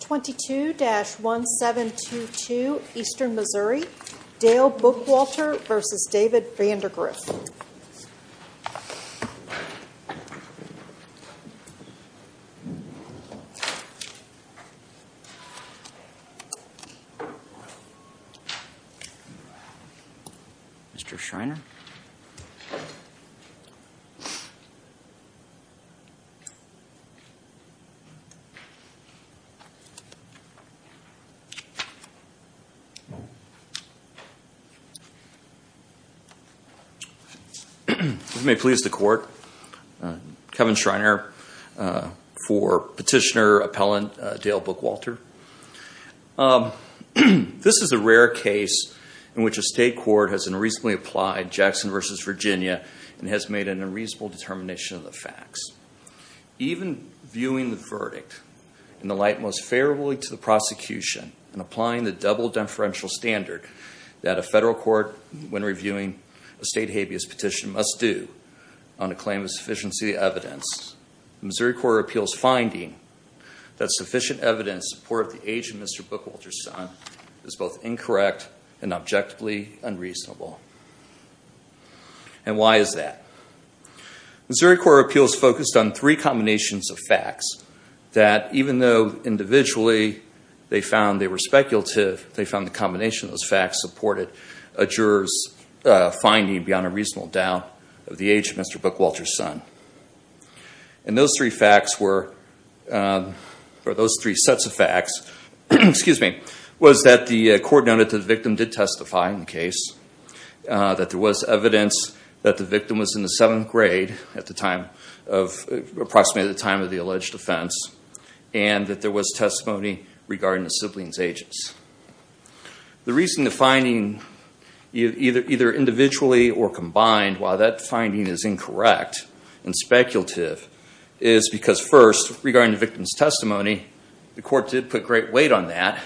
22-1722 Eastern Missouri, Dale Bookwalter v. David Vandergriff Mr. Schreiner This is a rare case in which a state court has unreasonably applied Jackson v. Virginia and has made an unreasonable determination of the facts. Even viewing the verdict in the light most favorable to the prosecution and applying the double deferential standard that a federal court, when reviewing a state habeas petition, must do on a claim of sufficiency of evidence, the Missouri Court of Appeals finding that sufficient evidence in support of the age of Mr. Bookwalter's son is both incorrect and objectively unreasonable. And why is that? Missouri Court of Appeals focused on three combinations of facts that even though individually they found they were speculative, they found the combination of those facts supported a juror's finding beyond a reasonable doubt of the age of Mr. Bookwalter's son. And those three sets of facts was that the court noted that the victim did testify in the case, that there was evidence that the victim was in the seventh grade at approximately the time of the alleged offense, and that there was testimony regarding the sibling's ages. The reason the finding, either individually or combined, why that finding is incorrect and speculative is because first, regarding the victim's testimony, the court did put great weight on that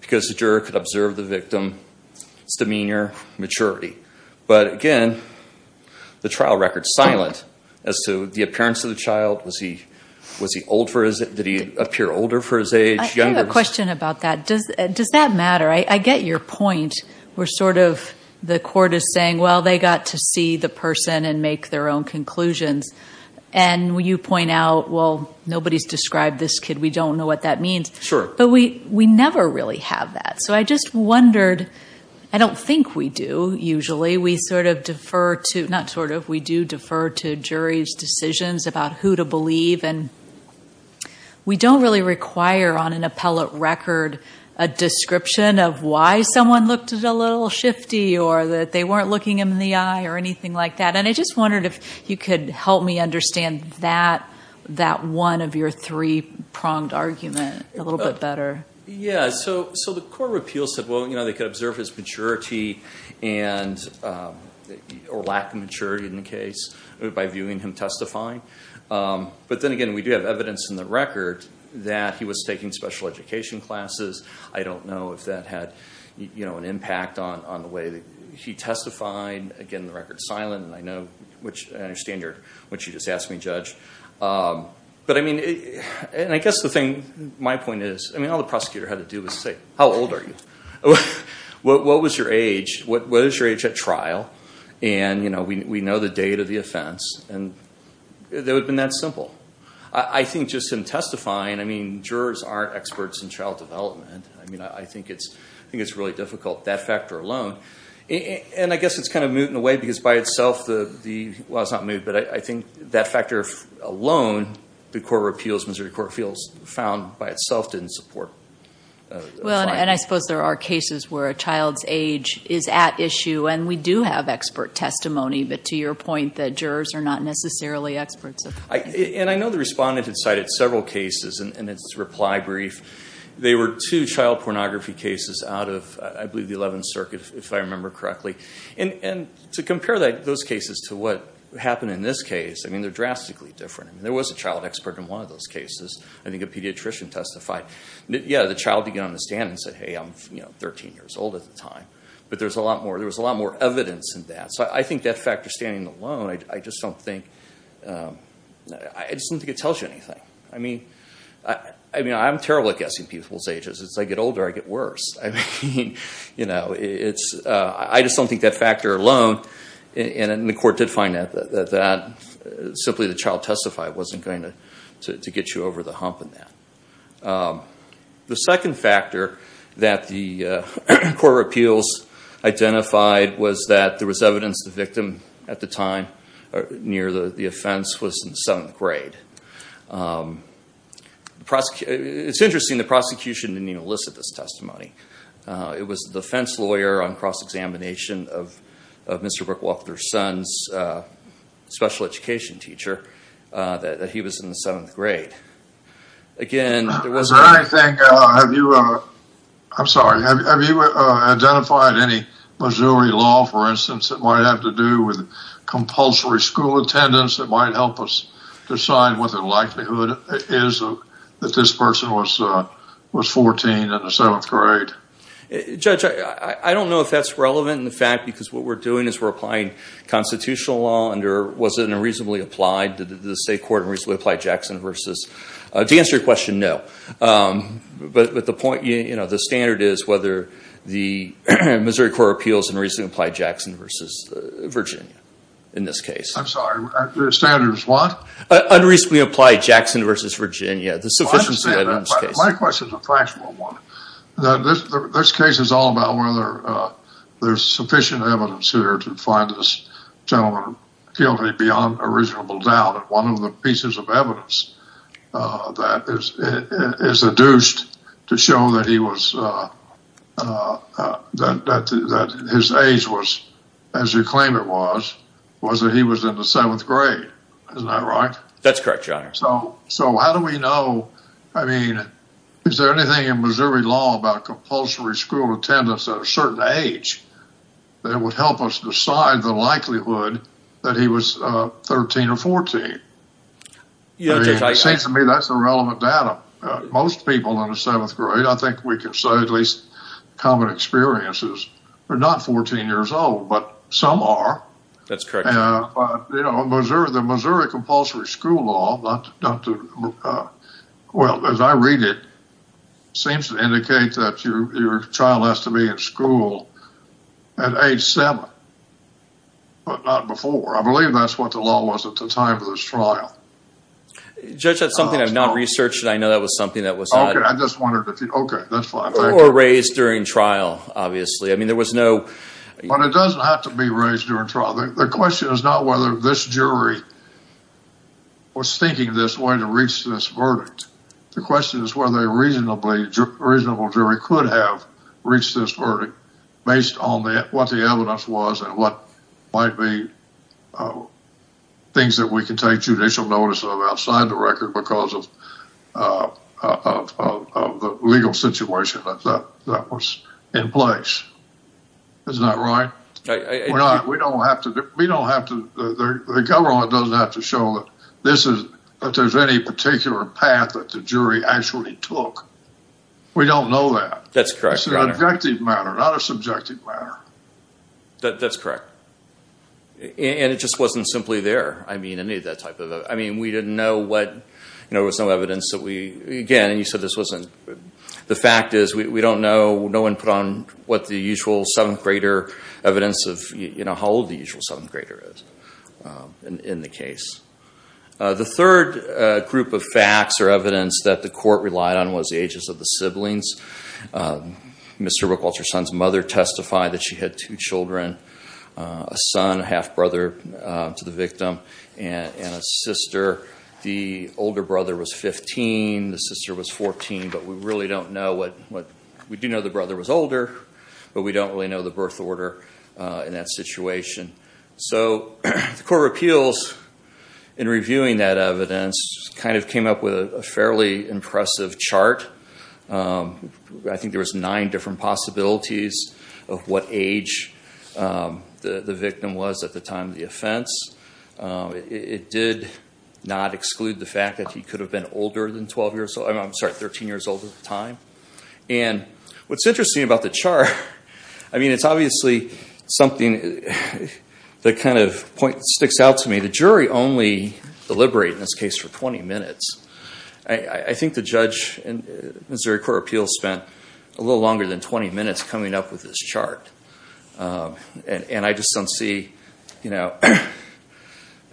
because the juror could observe the victim's demeanor, maturity. But again, the trial record's silent as to the appearance of the child. Was he old for his age? Did he appear older for his age? I have a question about that. Does that matter? I get your point where sort of the court is saying, well, they got to see the person and make their own conclusions. And you point out, well, nobody's described this kid. We don't know what that means. Sure. But we never really have that. So I just wondered, I don't think we do usually. We sort of defer to, not sort of, we do defer to jury's decisions about who to believe. And we don't really require on an appellate record a description of why someone looked a little shifty or that they weren't looking him in the eye or anything like that. And I just wondered if you could help me understand that one of your three-pronged argument a little bit better. Yeah. So the court of appeals said, well, they could observe his maturity or lack of maturity in the case by viewing him testifying. But then again, we do have evidence in the record that he was taking special education classes. I don't know if that had an impact on the way that he testified. Again, the record's silent. And I understand what you just asked me, Judge. But I mean, and I guess the thing, my point is, I mean all the prosecutor had to do was say, how old are you? What was your age? What is your age at trial? And, you know, we know the date of the offense. And it would have been that simple. I think just in testifying, I mean, jurors aren't experts in child development. I mean, I think it's really difficult, that factor alone. And I guess it's kind of moot in a way because by itself the, well, it's not moot, but I think that factor alone, the court of appeals, Missouri Court of Appeals found by itself didn't support. Well, and I suppose there are cases where a child's age is at issue, and we do have expert testimony, but to your point that jurors are not necessarily experts. And I know the respondent had cited several cases in its reply brief. They were two child pornography cases out of, I believe, the 11th Circuit, if I remember correctly. And to compare those cases to what happened in this case, I mean, they're drastically different. I mean, there was a child expert in one of those cases. I think a pediatrician testified. Yeah, the child began to understand and said, hey, I'm 13 years old at the time. But there was a lot more evidence in that. So I think that factor standing alone, I just don't think it tells you anything. I mean, I'm terrible at guessing people's ages. As I get older, I get worse. I mean, you know, I just don't think that factor alone, and the court did find that simply the child testified wasn't going to get you over the hump in that. The second factor that the court of appeals identified was that there was evidence the victim at the time near the offense was in the 7th grade. It's interesting, the prosecution didn't even elicit this testimony. It was the defense lawyer on cross-examination of Mr. Brookwalker's son's special education teacher, that he was in the 7th grade. Again, it wasn't. I think, have you, I'm sorry, have you identified any Missouri law, for instance, that might have to do with compulsory school attendance that might help us decide what the likelihood is that this person was 14 in the 7th grade? Judge, I don't know if that's relevant in the fact because what we're doing is we're applying constitutional law under, was it in a reasonably applied, did the state court reasonably apply Jackson versus, to answer your question, no. But the point, you know, the standard is whether the Missouri Court of Appeals reasonably applied Jackson versus Virginia in this case. I'm sorry, the standard is what? Unreasonably applied Jackson versus Virginia, the sufficiency of the case. My question is a fractional one. This case is all about whether there's sufficient evidence here to find this gentleman guilty beyond a reasonable doubt. One of the pieces of evidence that is adduced to show that he was, that his age was, as you claim it was, was that he was in the 7th grade. Isn't that right? That's correct, Your Honor. So how do we know, I mean, is there anything in Missouri law about compulsory school attendance at a certain age that would help us decide the likelihood that he was 13 or 14? I mean, it seems to me that's irrelevant data. Most people in the 7th grade, I think we can say at least common experiences, are not 14 years old, but some are. That's correct, Your Honor. But, you know, the Missouri compulsory school law, well, as I read it, seems to indicate that your child has to be in school at age 7, but not before. I believe that's what the law was at the time of this trial. Judge, that's something I've not researched. I know that was something that was not... Okay, I just wondered if you... Okay, that's fine. ...or raised during trial, obviously. I mean, there was no... But it doesn't have to be raised during trial. The question is not whether this jury was thinking this way to reach this verdict. The question is whether a reasonable jury could have reached this verdict based on what the evidence was and what might be things that we can take judicial notice of outside the record because of the legal situation that was in place. Isn't that right? We don't have to... The government doesn't have to show that there's any particular path that the jury actually took. We don't know that. That's correct, Your Honor. It's an objective matter, not a subjective matter. That's correct. And it just wasn't simply there. I mean, any of that type of... I mean, we didn't know what... There was no evidence that we... Again, and you said this wasn't... The fact is we don't know. No one put on what the usual 7th grader evidence of how old the usual 7th grader is in the case. The third group of facts or evidence that the court relied on was the ages of the siblings. Ms. Herbiculture's son's mother testified that she had two children, a son, a half of the victim, and a sister. The older brother was 15. The sister was 14. But we really don't know what... We do know the brother was older, but we don't really know the birth order in that situation. So the Court of Appeals, in reviewing that evidence, kind of came up with a fairly impressive chart. I think there was nine different possibilities of what age the victim was at the time of the offense. It did not exclude the fact that he could have been older than 12 years old. I'm sorry, 13 years old at the time. And what's interesting about the chart, I mean, it's obviously something that kind of sticks out to me. The jury only deliberated in this case for 20 minutes. I think the judge in Missouri Court of Appeals spent a little longer than 20 minutes coming up with this chart. And I just don't see, you know...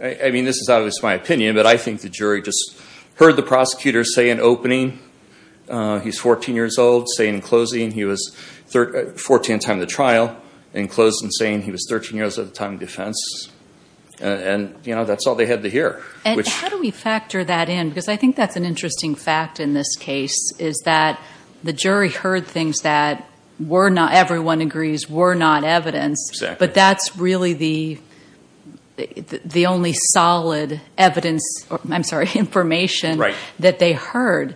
I mean, this is obviously my opinion, but I think the jury just heard the prosecutor say in opening he's 14 years old, say in closing he was 14 at the time of the trial, and close in saying he was 13 years at the time of defense. And, you know, that's all they had to hear. And how do we factor that in? Because I think that's an interesting fact in this case, is that the jury heard things that were not, everyone agrees, were not evidence, but that's really the only solid evidence, I'm sorry, information that they heard.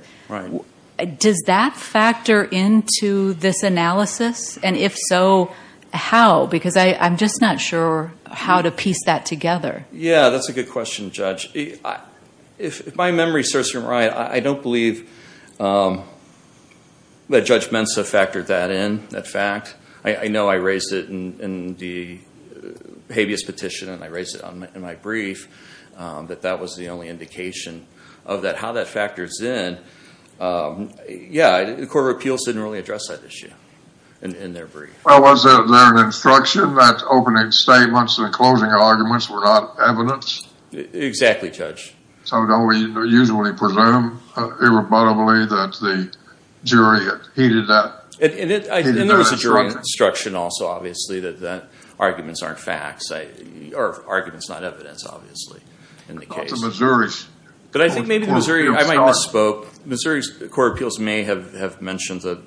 Does that factor into this analysis? And if so, how? Because I'm just not sure how to piece that together. Yeah, that's a good question, Judge. If my memory serves me right, I don't believe that Judge Mensah factored that in, that fact. I know I raised it in the habeas petition, and I raised it in my brief, that that was the only indication of that. How that factors in, yeah, the Court of Appeals didn't really address that issue in their brief. Well, was there an instruction that opening statements and closing arguments were not evidence? Exactly, Judge. So don't we usually presume irreparably that the jury heeded that instruction? And there was a jury instruction also, obviously, that arguments aren't facts, or arguments not evidence, obviously, in the case. But I think maybe the Missouri, I might misspoke, Missouri's Court of Appeals may have mentioned that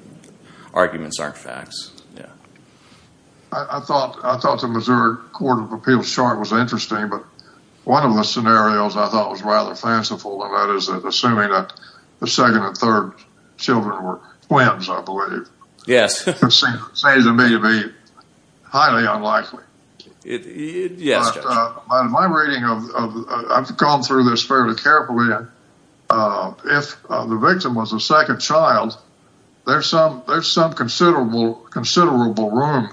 arguments aren't facts, yeah. I thought the Missouri Court of Appeals chart was interesting, but one of the scenarios I thought was rather fanciful, and that is assuming that the second and third children were twins, I believe. Yes. It seems to me to be highly unlikely. Yes, Judge. My reading of, I've gone through this fairly carefully, if the victim was a second child, there's some considerable room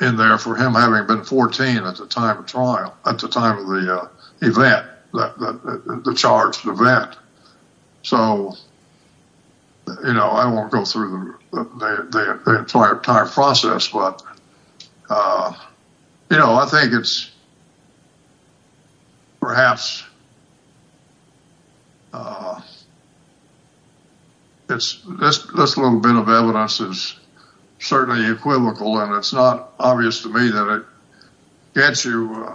in there for him having been 14 at the time of trial, at the time of the event, the charged event. So, you know, I won't go through the entire process, but, you know, I think it's perhaps, this little bit of evidence is certainly equivocal, and it's not obvious to me that it gets you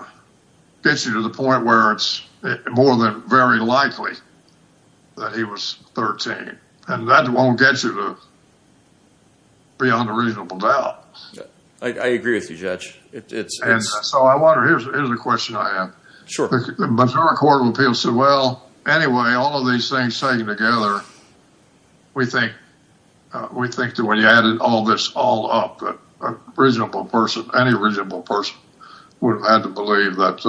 to the point where it's more than very likely that he was 13. And that won't get you to beyond a reasonable doubt. I agree with you, Judge. So, I wonder, here's the question I have. Sure. The Missouri Court of Appeals said, well, anyway, all of these things taken together, we think that when you added all this all up, a reasonable person, any reasonable person, would have had to believe that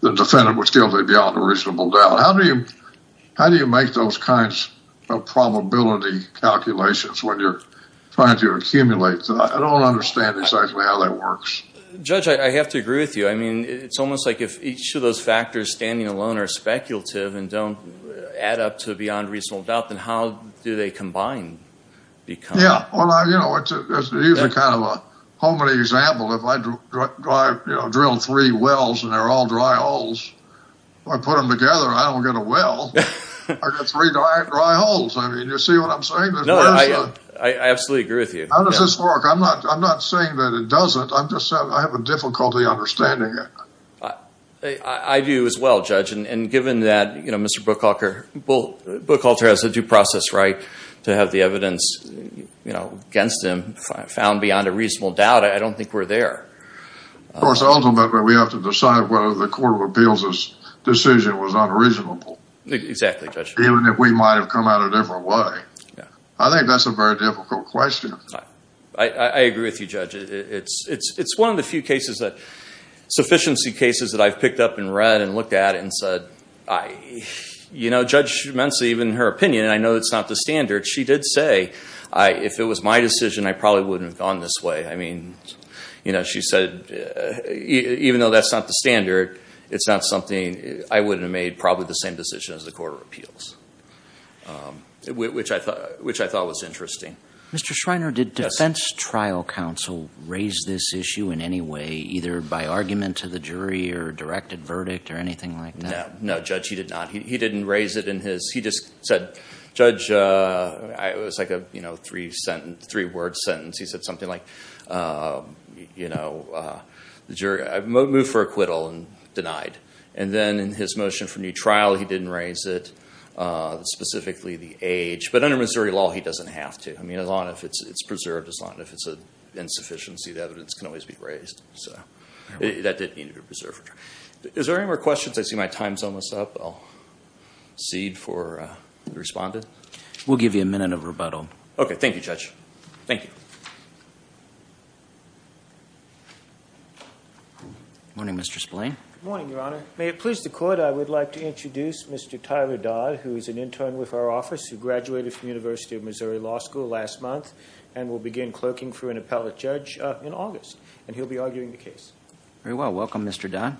the defendant was guilty beyond a reasonable doubt. How do you make those kinds of probability calculations when you're trying to accumulate? I don't understand exactly how that works. Judge, I have to agree with you. I mean, it's almost like if each of those factors standing alone are speculative and don't add up to beyond reasonable doubt, then how do they combine? Yeah, well, you know, it's usually kind of a homely example. If I drill three wells and they're all dry holes, if I put them together, I don't get a well. I get three dry holes. I mean, you see what I'm saying? No, I absolutely agree with you. How does this work? I'm not saying that it doesn't. I'm just saying I have a difficulty understanding it. I do as well, Judge. And given that Mr. Bookhalter has a due process right to have the evidence, you know, against him found beyond a reasonable doubt, I don't think we're there. Of course, ultimately we have to decide whether the Court of Appeals' decision was unreasonable. Exactly, Judge. Even if we might have come out a different way. I think that's a very difficult question. I agree with you, Judge. It's one of the few cases, sufficiency cases, that I've picked up and read and looked at and said, you know, Judge Schreiner, even in her opinion, and I know it's not the standard, she did say, if it was my decision, I probably wouldn't have gone this way. I mean, you know, she said, even though that's not the standard, it's not something I would have made probably the same decision as the Court of Appeals, which I thought was interesting. Mr. Schreiner, did defense trial counsel raise this issue in any way, either by argument to the jury or directed verdict or anything like that? No, Judge, he did not. He didn't raise it in his, he just said, Judge, it was like a three-word sentence. He said something like, you know, the jury moved for acquittal and denied. And then in his motion for new trial, he didn't raise it, specifically the age. But under Missouri law, he doesn't have to. I mean, as long as it's preserved, as long as it's an insufficiency, the evidence can always be raised. So that didn't need to be preserved. Is there any more questions? I see my time's almost up. I'll cede for the respondent. We'll give you a minute of rebuttal. Okay. Thank you, Judge. Thank you. Good morning, Mr. Splane. Good morning, Your Honor. May it please the Court, I would like to introduce Mr. Tyler Dodd, who is an intern with our office, who graduated from the University of Missouri Law School last month and will begin clerking for an appellate judge in August. And he'll be arguing the case. Very well. Welcome, Mr. Dodd.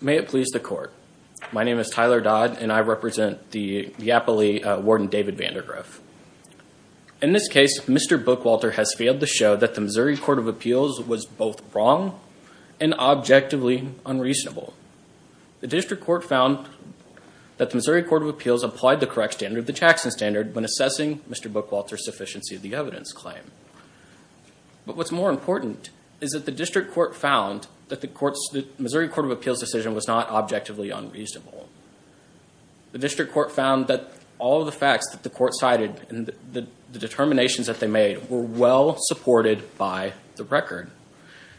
May it please the Court. My name is Tyler Dodd, and I represent the Iapoli Warden David Vandegraaff. In this case, Mr. Bookwalter has failed to show that the Missouri Court of Appeals was both wrong and objectively unreasonable. The district court found that the Missouri Court of Appeals applied the correct standard, the Jackson Standard, when assessing Mr. Bookwalter's sufficiency of the evidence claim. But what's more important is that the district court found that the Missouri Court of Appeals decision was not objectively unreasonable. The district court found that all of the facts that the court cited and the determinations that they made were well supported by the record.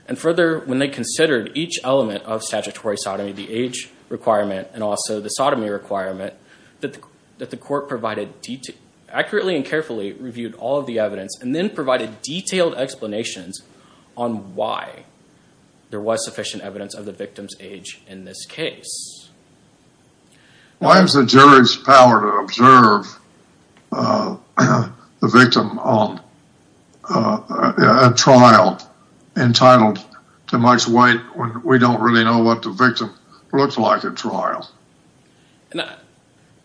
And further, when they considered each element of statutory sodomy, the age requirement and also the sodomy requirement, that the court provided accurately and carefully reviewed all of the evidence and then provided detailed explanations on why there was sufficient evidence of the victim's age in this case. Why is the jury's power to observe the victim at trial entitled to much weight when we don't really know what the victim looks like at trial?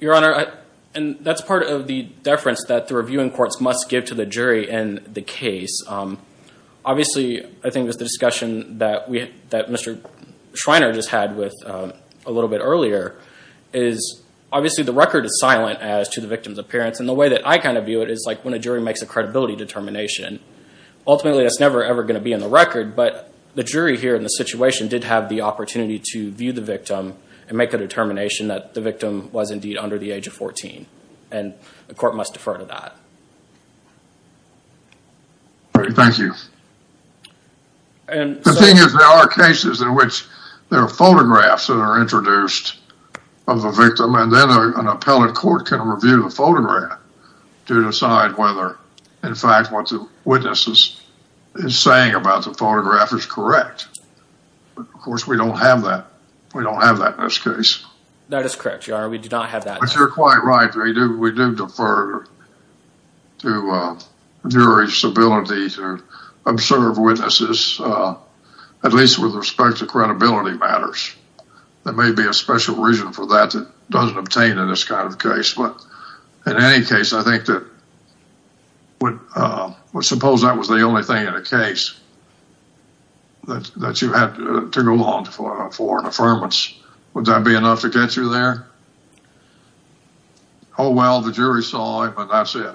Your Honor, that's part of the deference that the reviewing courts must give to the jury in the case. Obviously, I think it was the discussion that Mr. Schreiner just had with a little bit earlier is obviously the record is silent as to the victim's appearance. And the way that I kind of view it is like when a jury makes a credibility determination. Ultimately, that's never, ever going to be in the record. But the jury here in the situation did have the opportunity to view the victim and make a determination that the victim was indeed under the age of 14. And the court must defer to that. Thank you. The thing is, there are cases in which there are photographs that are introduced of the victim and then an appellate court can review the photograph to decide whether, in fact, what the witness is saying about the photograph is correct. Of course, we don't have that. We don't have that in this case. That is correct, Your Honor. We do not have that. But you're quite right. We do defer to jury's ability to observe witnesses, at least with respect to credibility matters. There may be a special reason for that that doesn't obtain in this kind of case. But in any case, I think that suppose that was the only thing in the case that you had to go along for an affirmance. Would that be enough to get you there? Oh, well, the jury saw it, but that's it.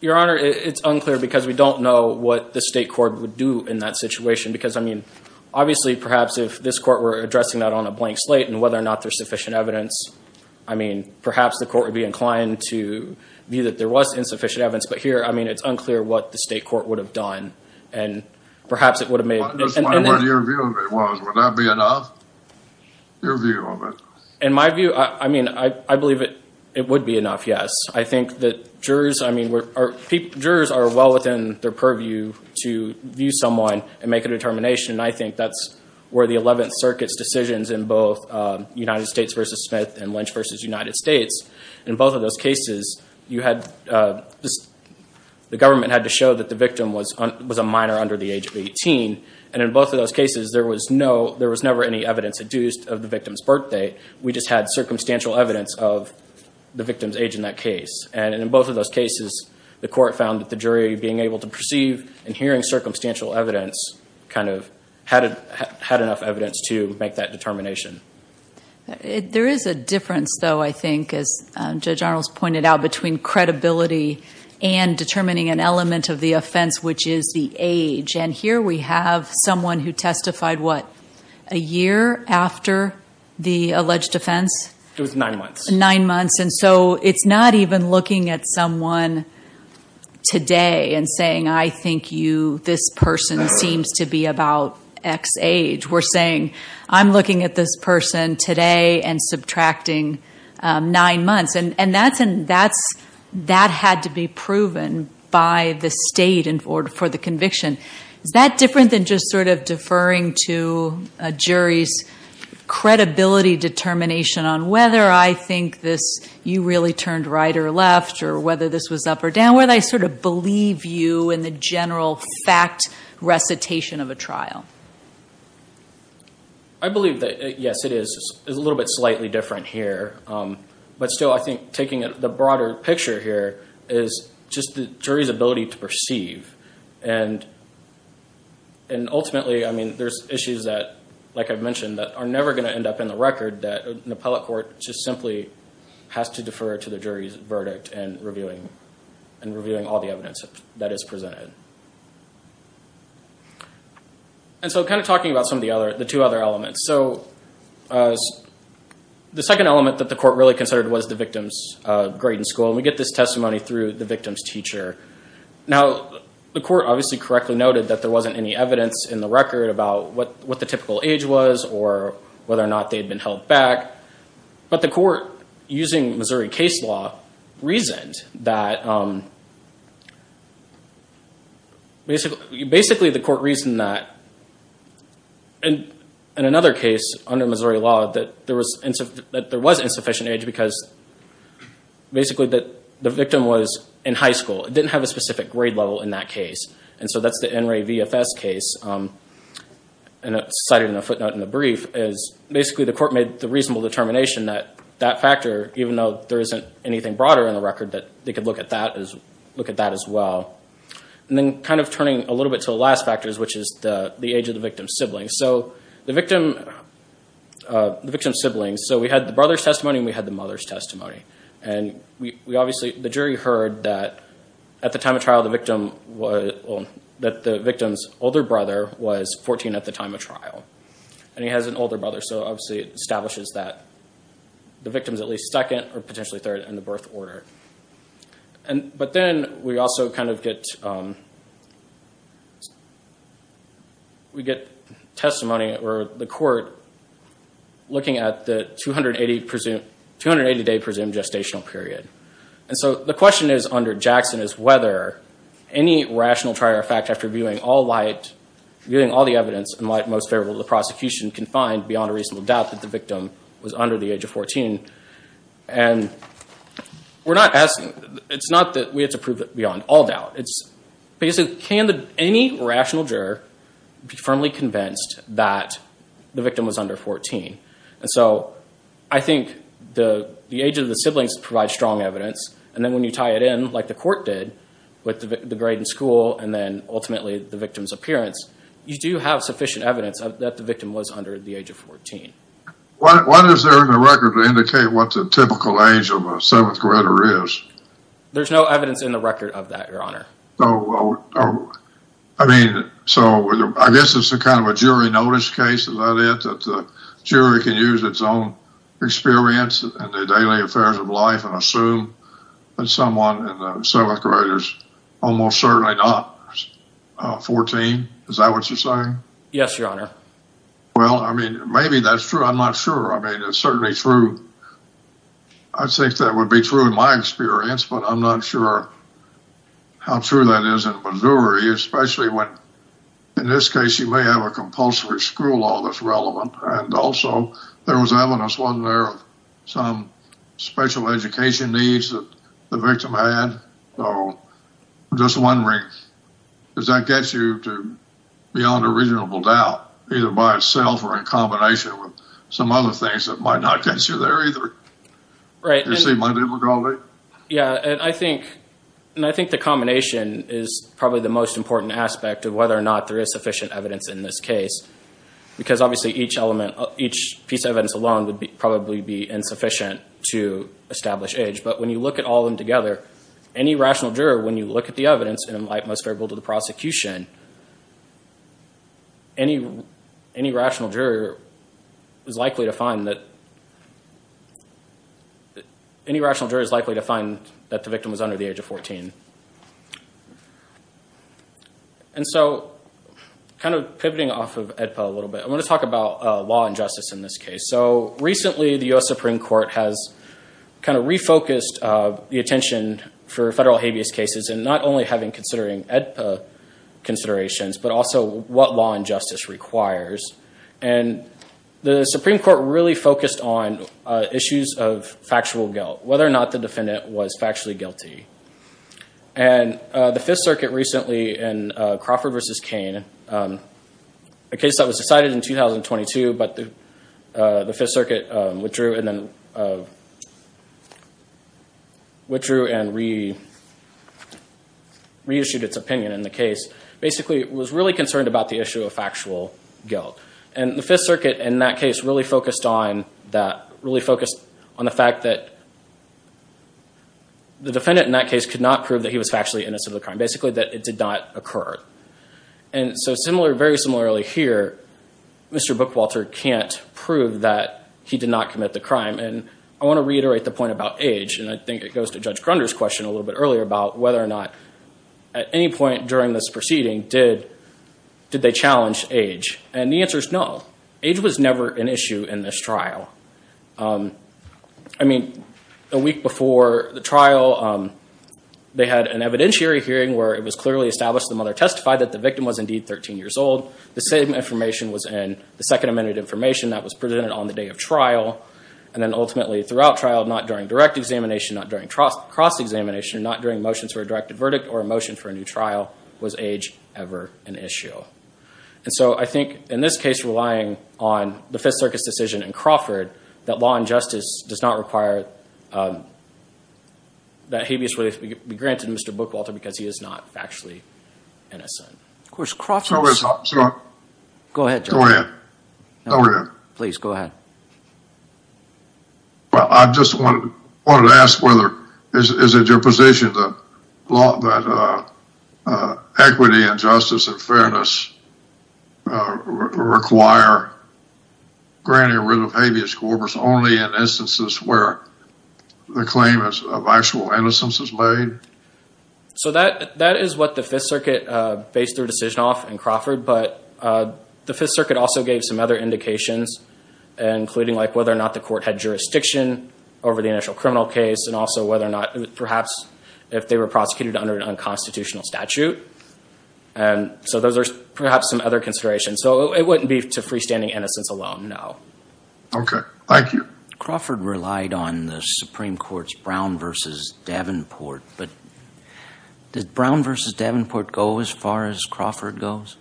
Your Honor, it's unclear because we don't know what the state court would do in that situation. Because, I mean, obviously, perhaps if this court were addressing that on a blank slate and whether or not there's sufficient evidence, I mean, perhaps the court would be inclined to view that there was insufficient evidence. But here, I mean, it's unclear what the state court would have done. And perhaps it would have made – I'm just wondering what your view of it was. Would that be enough, your view of it? In my view, I mean, I believe it would be enough, yes. I think that jurors, I mean, jurors are well within their purview to view someone and make a determination. And I think that's where the 11th Circuit's decisions in both United States v. Smith and Lynch v. United States, in both of those cases, you had – the government had to show that the victim was a minor under the age of 18. And in both of those cases, there was no – there was never any evidence adduced of the victim's birthday. We just had circumstantial evidence of the victim's age in that case. And in both of those cases, the court found that the jury, being able to perceive and hearing circumstantial evidence, kind of had enough evidence to make that determination. There is a difference, though, I think, as Judge Arnold's pointed out, between credibility and determining an element of the offense, which is the age. And here we have someone who testified, what, a year after the alleged offense? It was nine months. Nine months. And so it's not even looking at someone today and saying, I think you – this person seems to be about X age. We're saying, I'm looking at this person today and subtracting nine months. And that had to be proven by the state for the conviction. Is that different than just sort of deferring to a jury's credibility determination on whether I think this – you really turned right or left or whether this was up or down, where they sort of believe you in the general fact recitation of a trial? I believe that, yes, it is a little bit slightly different here. But still, I think taking the broader picture here is just the jury's ability to perceive. And ultimately, I mean, there's issues that, like I've mentioned, that are never going to end up in the record, that an appellate court just simply has to defer to the jury's verdict in reviewing all the evidence that is presented. And so kind of talking about some of the other – the two other elements. So the second element that the court really considered was the victim's grade in school. And we get this testimony through the victim's teacher. Now, the court obviously correctly noted that there wasn't any evidence in the record about what the typical age was or whether or not they had been held back. But the court, using Missouri case law, reasoned that – in another case, under Missouri law, that there was insufficient age because basically the victim was in high school. It didn't have a specific grade level in that case. And so that's the NRA VFS case cited in the footnote in the brief. Basically, the court made the reasonable determination that that factor, even though there isn't anything broader in the record, that they could look at that as well. And then kind of turning a little bit to the last factor, which is the age of the victim's siblings. So the victim's siblings – so we had the brother's testimony and we had the mother's testimony. And we obviously – the jury heard that at the time of trial, the victim was – that the victim's older brother was 14 at the time of trial. And he has an older brother, so obviously it establishes that the victim is at least second or potentially third in the birth order. But then we also kind of get – we get testimony or the court looking at the 280-day presumed gestational period. And so the question is, under Jackson, is whether any rational trier of fact, after viewing all light – viewing all the evidence in light most favorable to the prosecution, can find beyond a reasonable doubt that the victim was under the age of 14. And we're not asking – it's not that we have to prove it beyond all doubt. Basically, can any rational juror be firmly convinced that the victim was under 14? And so I think the age of the siblings provides strong evidence. And then when you tie it in like the court did with the grade in school and then ultimately the victim's appearance, you do have sufficient evidence that the victim was under the age of 14. What is there in the record to indicate what the typical age of a seventh-grader is? There's no evidence in the record of that, Your Honor. So, I mean, so I guess it's kind of a jury notice case. Is that it? That the jury can use its own experience in the daily affairs of life and assume that someone in the seventh grade is almost certainly not 14? Is that what you're saying? Yes, Your Honor. Well, I mean, maybe that's true. I'm not sure. I mean, it's certainly true. I think that would be true in my experience, but I'm not sure how true that is in Missouri, especially when, in this case, you may have a compulsory school law that's relevant. And also, there was evidence, wasn't there, of some special education needs that the victim had? So, just wondering, does that get you to beyond a reasonable doubt, either by itself or in combination with some other things that might not get you there either? Right. Do you see my difficulty? Yeah. And I think the combination is probably the most important aspect of whether or not there is sufficient evidence in this case. Because, obviously, each piece of evidence alone would probably be insufficient to establish age. But when you look at all of them together, any rational juror, when you look at the evidence, and in light, most variable to the prosecution, any rational juror is likely to find that the victim was under the age of 14. And so, kind of pivoting off of AEDPA a little bit, I want to talk about law and justice in this case. So, recently, the U.S. Supreme Court has kind of refocused the attention for federal habeas cases and not only having considering AEDPA considerations, but also what law and justice requires. And the Supreme Court really focused on issues of factual guilt, whether or not the defendant was factually guilty. And the Fifth Circuit recently, in Crawford v. Cain, a case that was decided in 2022, but the Fifth Circuit withdrew and reissued its opinion in the case, basically was really concerned about the issue of factual guilt. And the Fifth Circuit, in that case, really focused on the fact that the defendant, in that case, could not prove that he was factually innocent of the crime, basically that it did not occur. And so, very similarly here, Mr. Bookwalter can't prove that he did not commit the crime. And I want to reiterate the point about age, and I think it goes to Judge Grunder's question a little bit earlier about whether or not, at any point during this proceeding, did they challenge age. And the answer is no. Age was never an issue in this trial. I mean, a week before the trial, they had an evidentiary hearing where it was clearly established, the mother testified that the victim was indeed 13 years old. The same information was in the Second Amendment information that was presented on the day of trial. And then ultimately, throughout trial, not during direct examination, not during cross-examination, not during motions for a directed verdict or a motion for a new trial, was age ever an issue. And so, I think, in this case, relying on the Fifth Circuit's decision in Crawford, that law and justice does not require that habeas would be granted to Mr. Bookwalter because he is not factually innocent. Of course, Crawford's… Go ahead, Judge. Go ahead. Go ahead. Please, go ahead. Well, I just wanted to ask whether… Is it your position that equity and justice and fairness require granting rid of habeas corpus only in instances where the claim of actual innocence is made? So, that is what the Fifth Circuit based their decision off in Crawford, but the Fifth Circuit also gave some other indications, including like whether or not the court had jurisdiction over the initial criminal case and also whether or not perhaps if they were prosecuted under an unconstitutional statute. And so, those are perhaps some other considerations. So, it wouldn't be to freestanding innocence alone, no. Okay. Thank you. Crawford relied on the Supreme Court's Brown v. Davenport, but did Brown v. Davenport go as far as Crawford goes?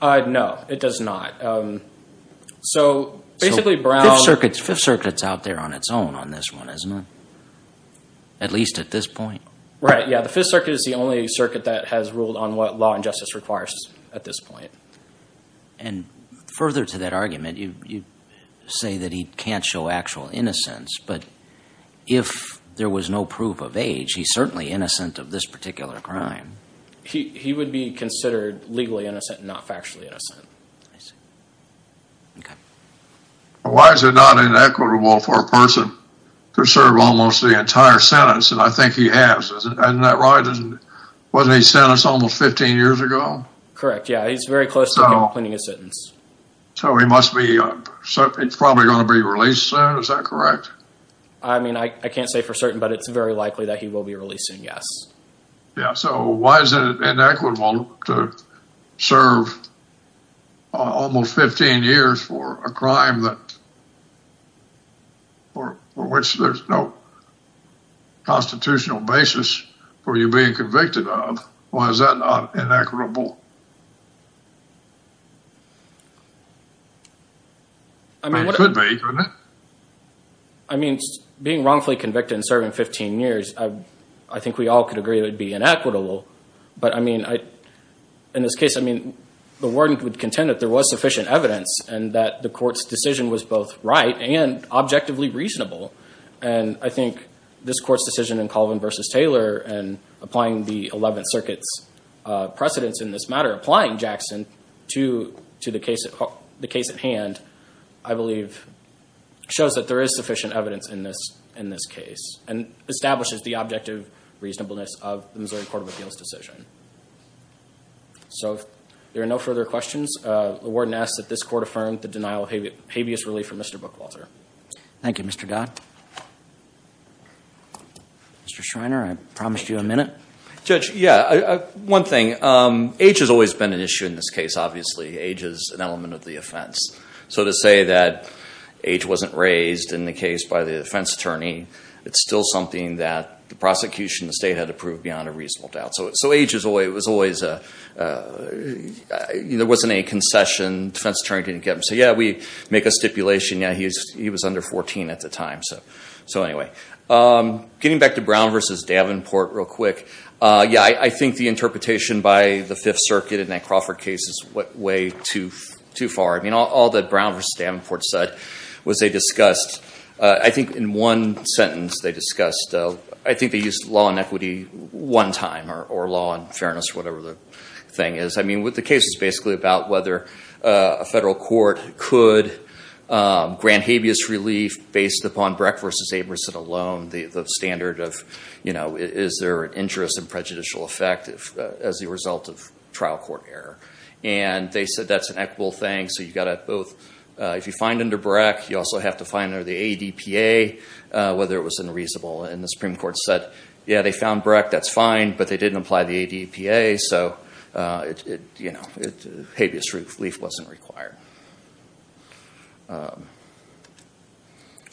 No, it does not. So, basically, Brown… The Fifth Circuit is out there on its own on this one, isn't it, at least at this point? Right. Yeah. The Fifth Circuit is the only circuit that has ruled on what law and justice requires at this point. And further to that argument, you say that he can't show actual innocence, but if there was no proof of age, he's certainly innocent of this particular crime. He would be considered legally innocent and not factually innocent. I see. Okay. Why is it not inequitable for a person to serve almost the entire sentence? And I think he has. Isn't that right? Wasn't he sentenced almost 15 years ago? Correct. Yeah. He's very close to completing his sentence. So, he must be… He's probably going to be released soon. Is that correct? I mean, I can't say for certain, but it's very likely that he will be released soon, yes. Yeah. So, why is it inequitable to serve almost 15 years for a crime that… for which there's no constitutional basis for you being convicted of? Why is that not inequitable? It could be, couldn't it? I mean, being wrongfully convicted and serving 15 years, I think we all could agree that it would be inequitable. But, I mean, in this case, I mean, the warden would contend that there was sufficient evidence and that the court's decision was both right and objectively reasonable. And I think this court's decision in Colvin v. Taylor and applying the Eleventh Circuit's precedence in this matter, applying Jackson to the case at hand, I believe, shows that there is sufficient evidence in this case and establishes the objective reasonableness of the Missouri Court of Appeals decision. So, if there are no further questions, the warden asks that this court affirm the denial of habeas relief from Mr. Bookwalter. Thank you, Mr. Dodd. Mr. Schreiner, I promised you a minute. Judge, yeah, one thing. Age has always been an issue in this case, obviously. Age is an element of the offense. So, to say that age wasn't raised in the case by the defense attorney, it's still something that the prosecution, the state, had to prove beyond a reasonable doubt. So, age was always… there wasn't any concession. Defense attorney didn't get them. So, yeah, we make a stipulation. Yeah, he was under 14 at the time. So, anyway. Getting back to Brown v. Davenport real quick. Yeah, I think the interpretation by the Fifth Circuit in that Crawford case is way too far. I mean, all that Brown v. Davenport said was they discussed… I think in one sentence they discussed… I think they used law and equity one time or law and fairness or whatever the thing is. I mean, the case is basically about whether a federal court could grant habeas relief based upon Breck v. Abramson alone, the standard of, you know, is there an interest in prejudicial effect as a result of trial court error. And they said that's an equitable thing. So, you've got to both… if you find under Breck, you also have to find under the ADPA whether it was unreasonable. And the Supreme Court said, yeah, they found Breck, that's fine, but they didn't apply the ADPA. So, you know, habeas relief wasn't required. So,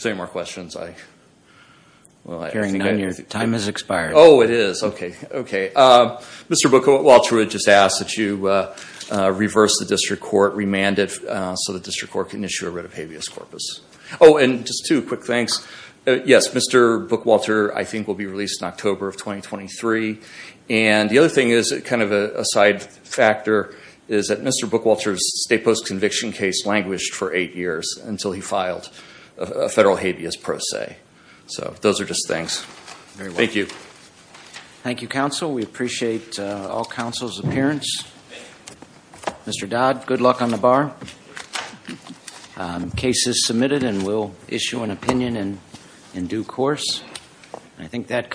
any more questions? Time has expired. Oh, it is. Okay. Okay. Mr. Bookwalter had just asked that you reverse the district court, remand it, so the district court can issue a writ of habeas corpus. Oh, and just two quick things. Yes, Mr. Bookwalter, I think, will be released in October of 2023. And the other thing is, kind of a side factor, is that Mr. Bookwalter's state post-conviction case languished for eight years until he filed a federal habeas pro se. So, those are just things. Thank you. Thank you, counsel. We appreciate all counsel's appearance. Mr. Dodd, good luck on the bar. Case is submitted and we'll issue an opinion in due course. Thank you.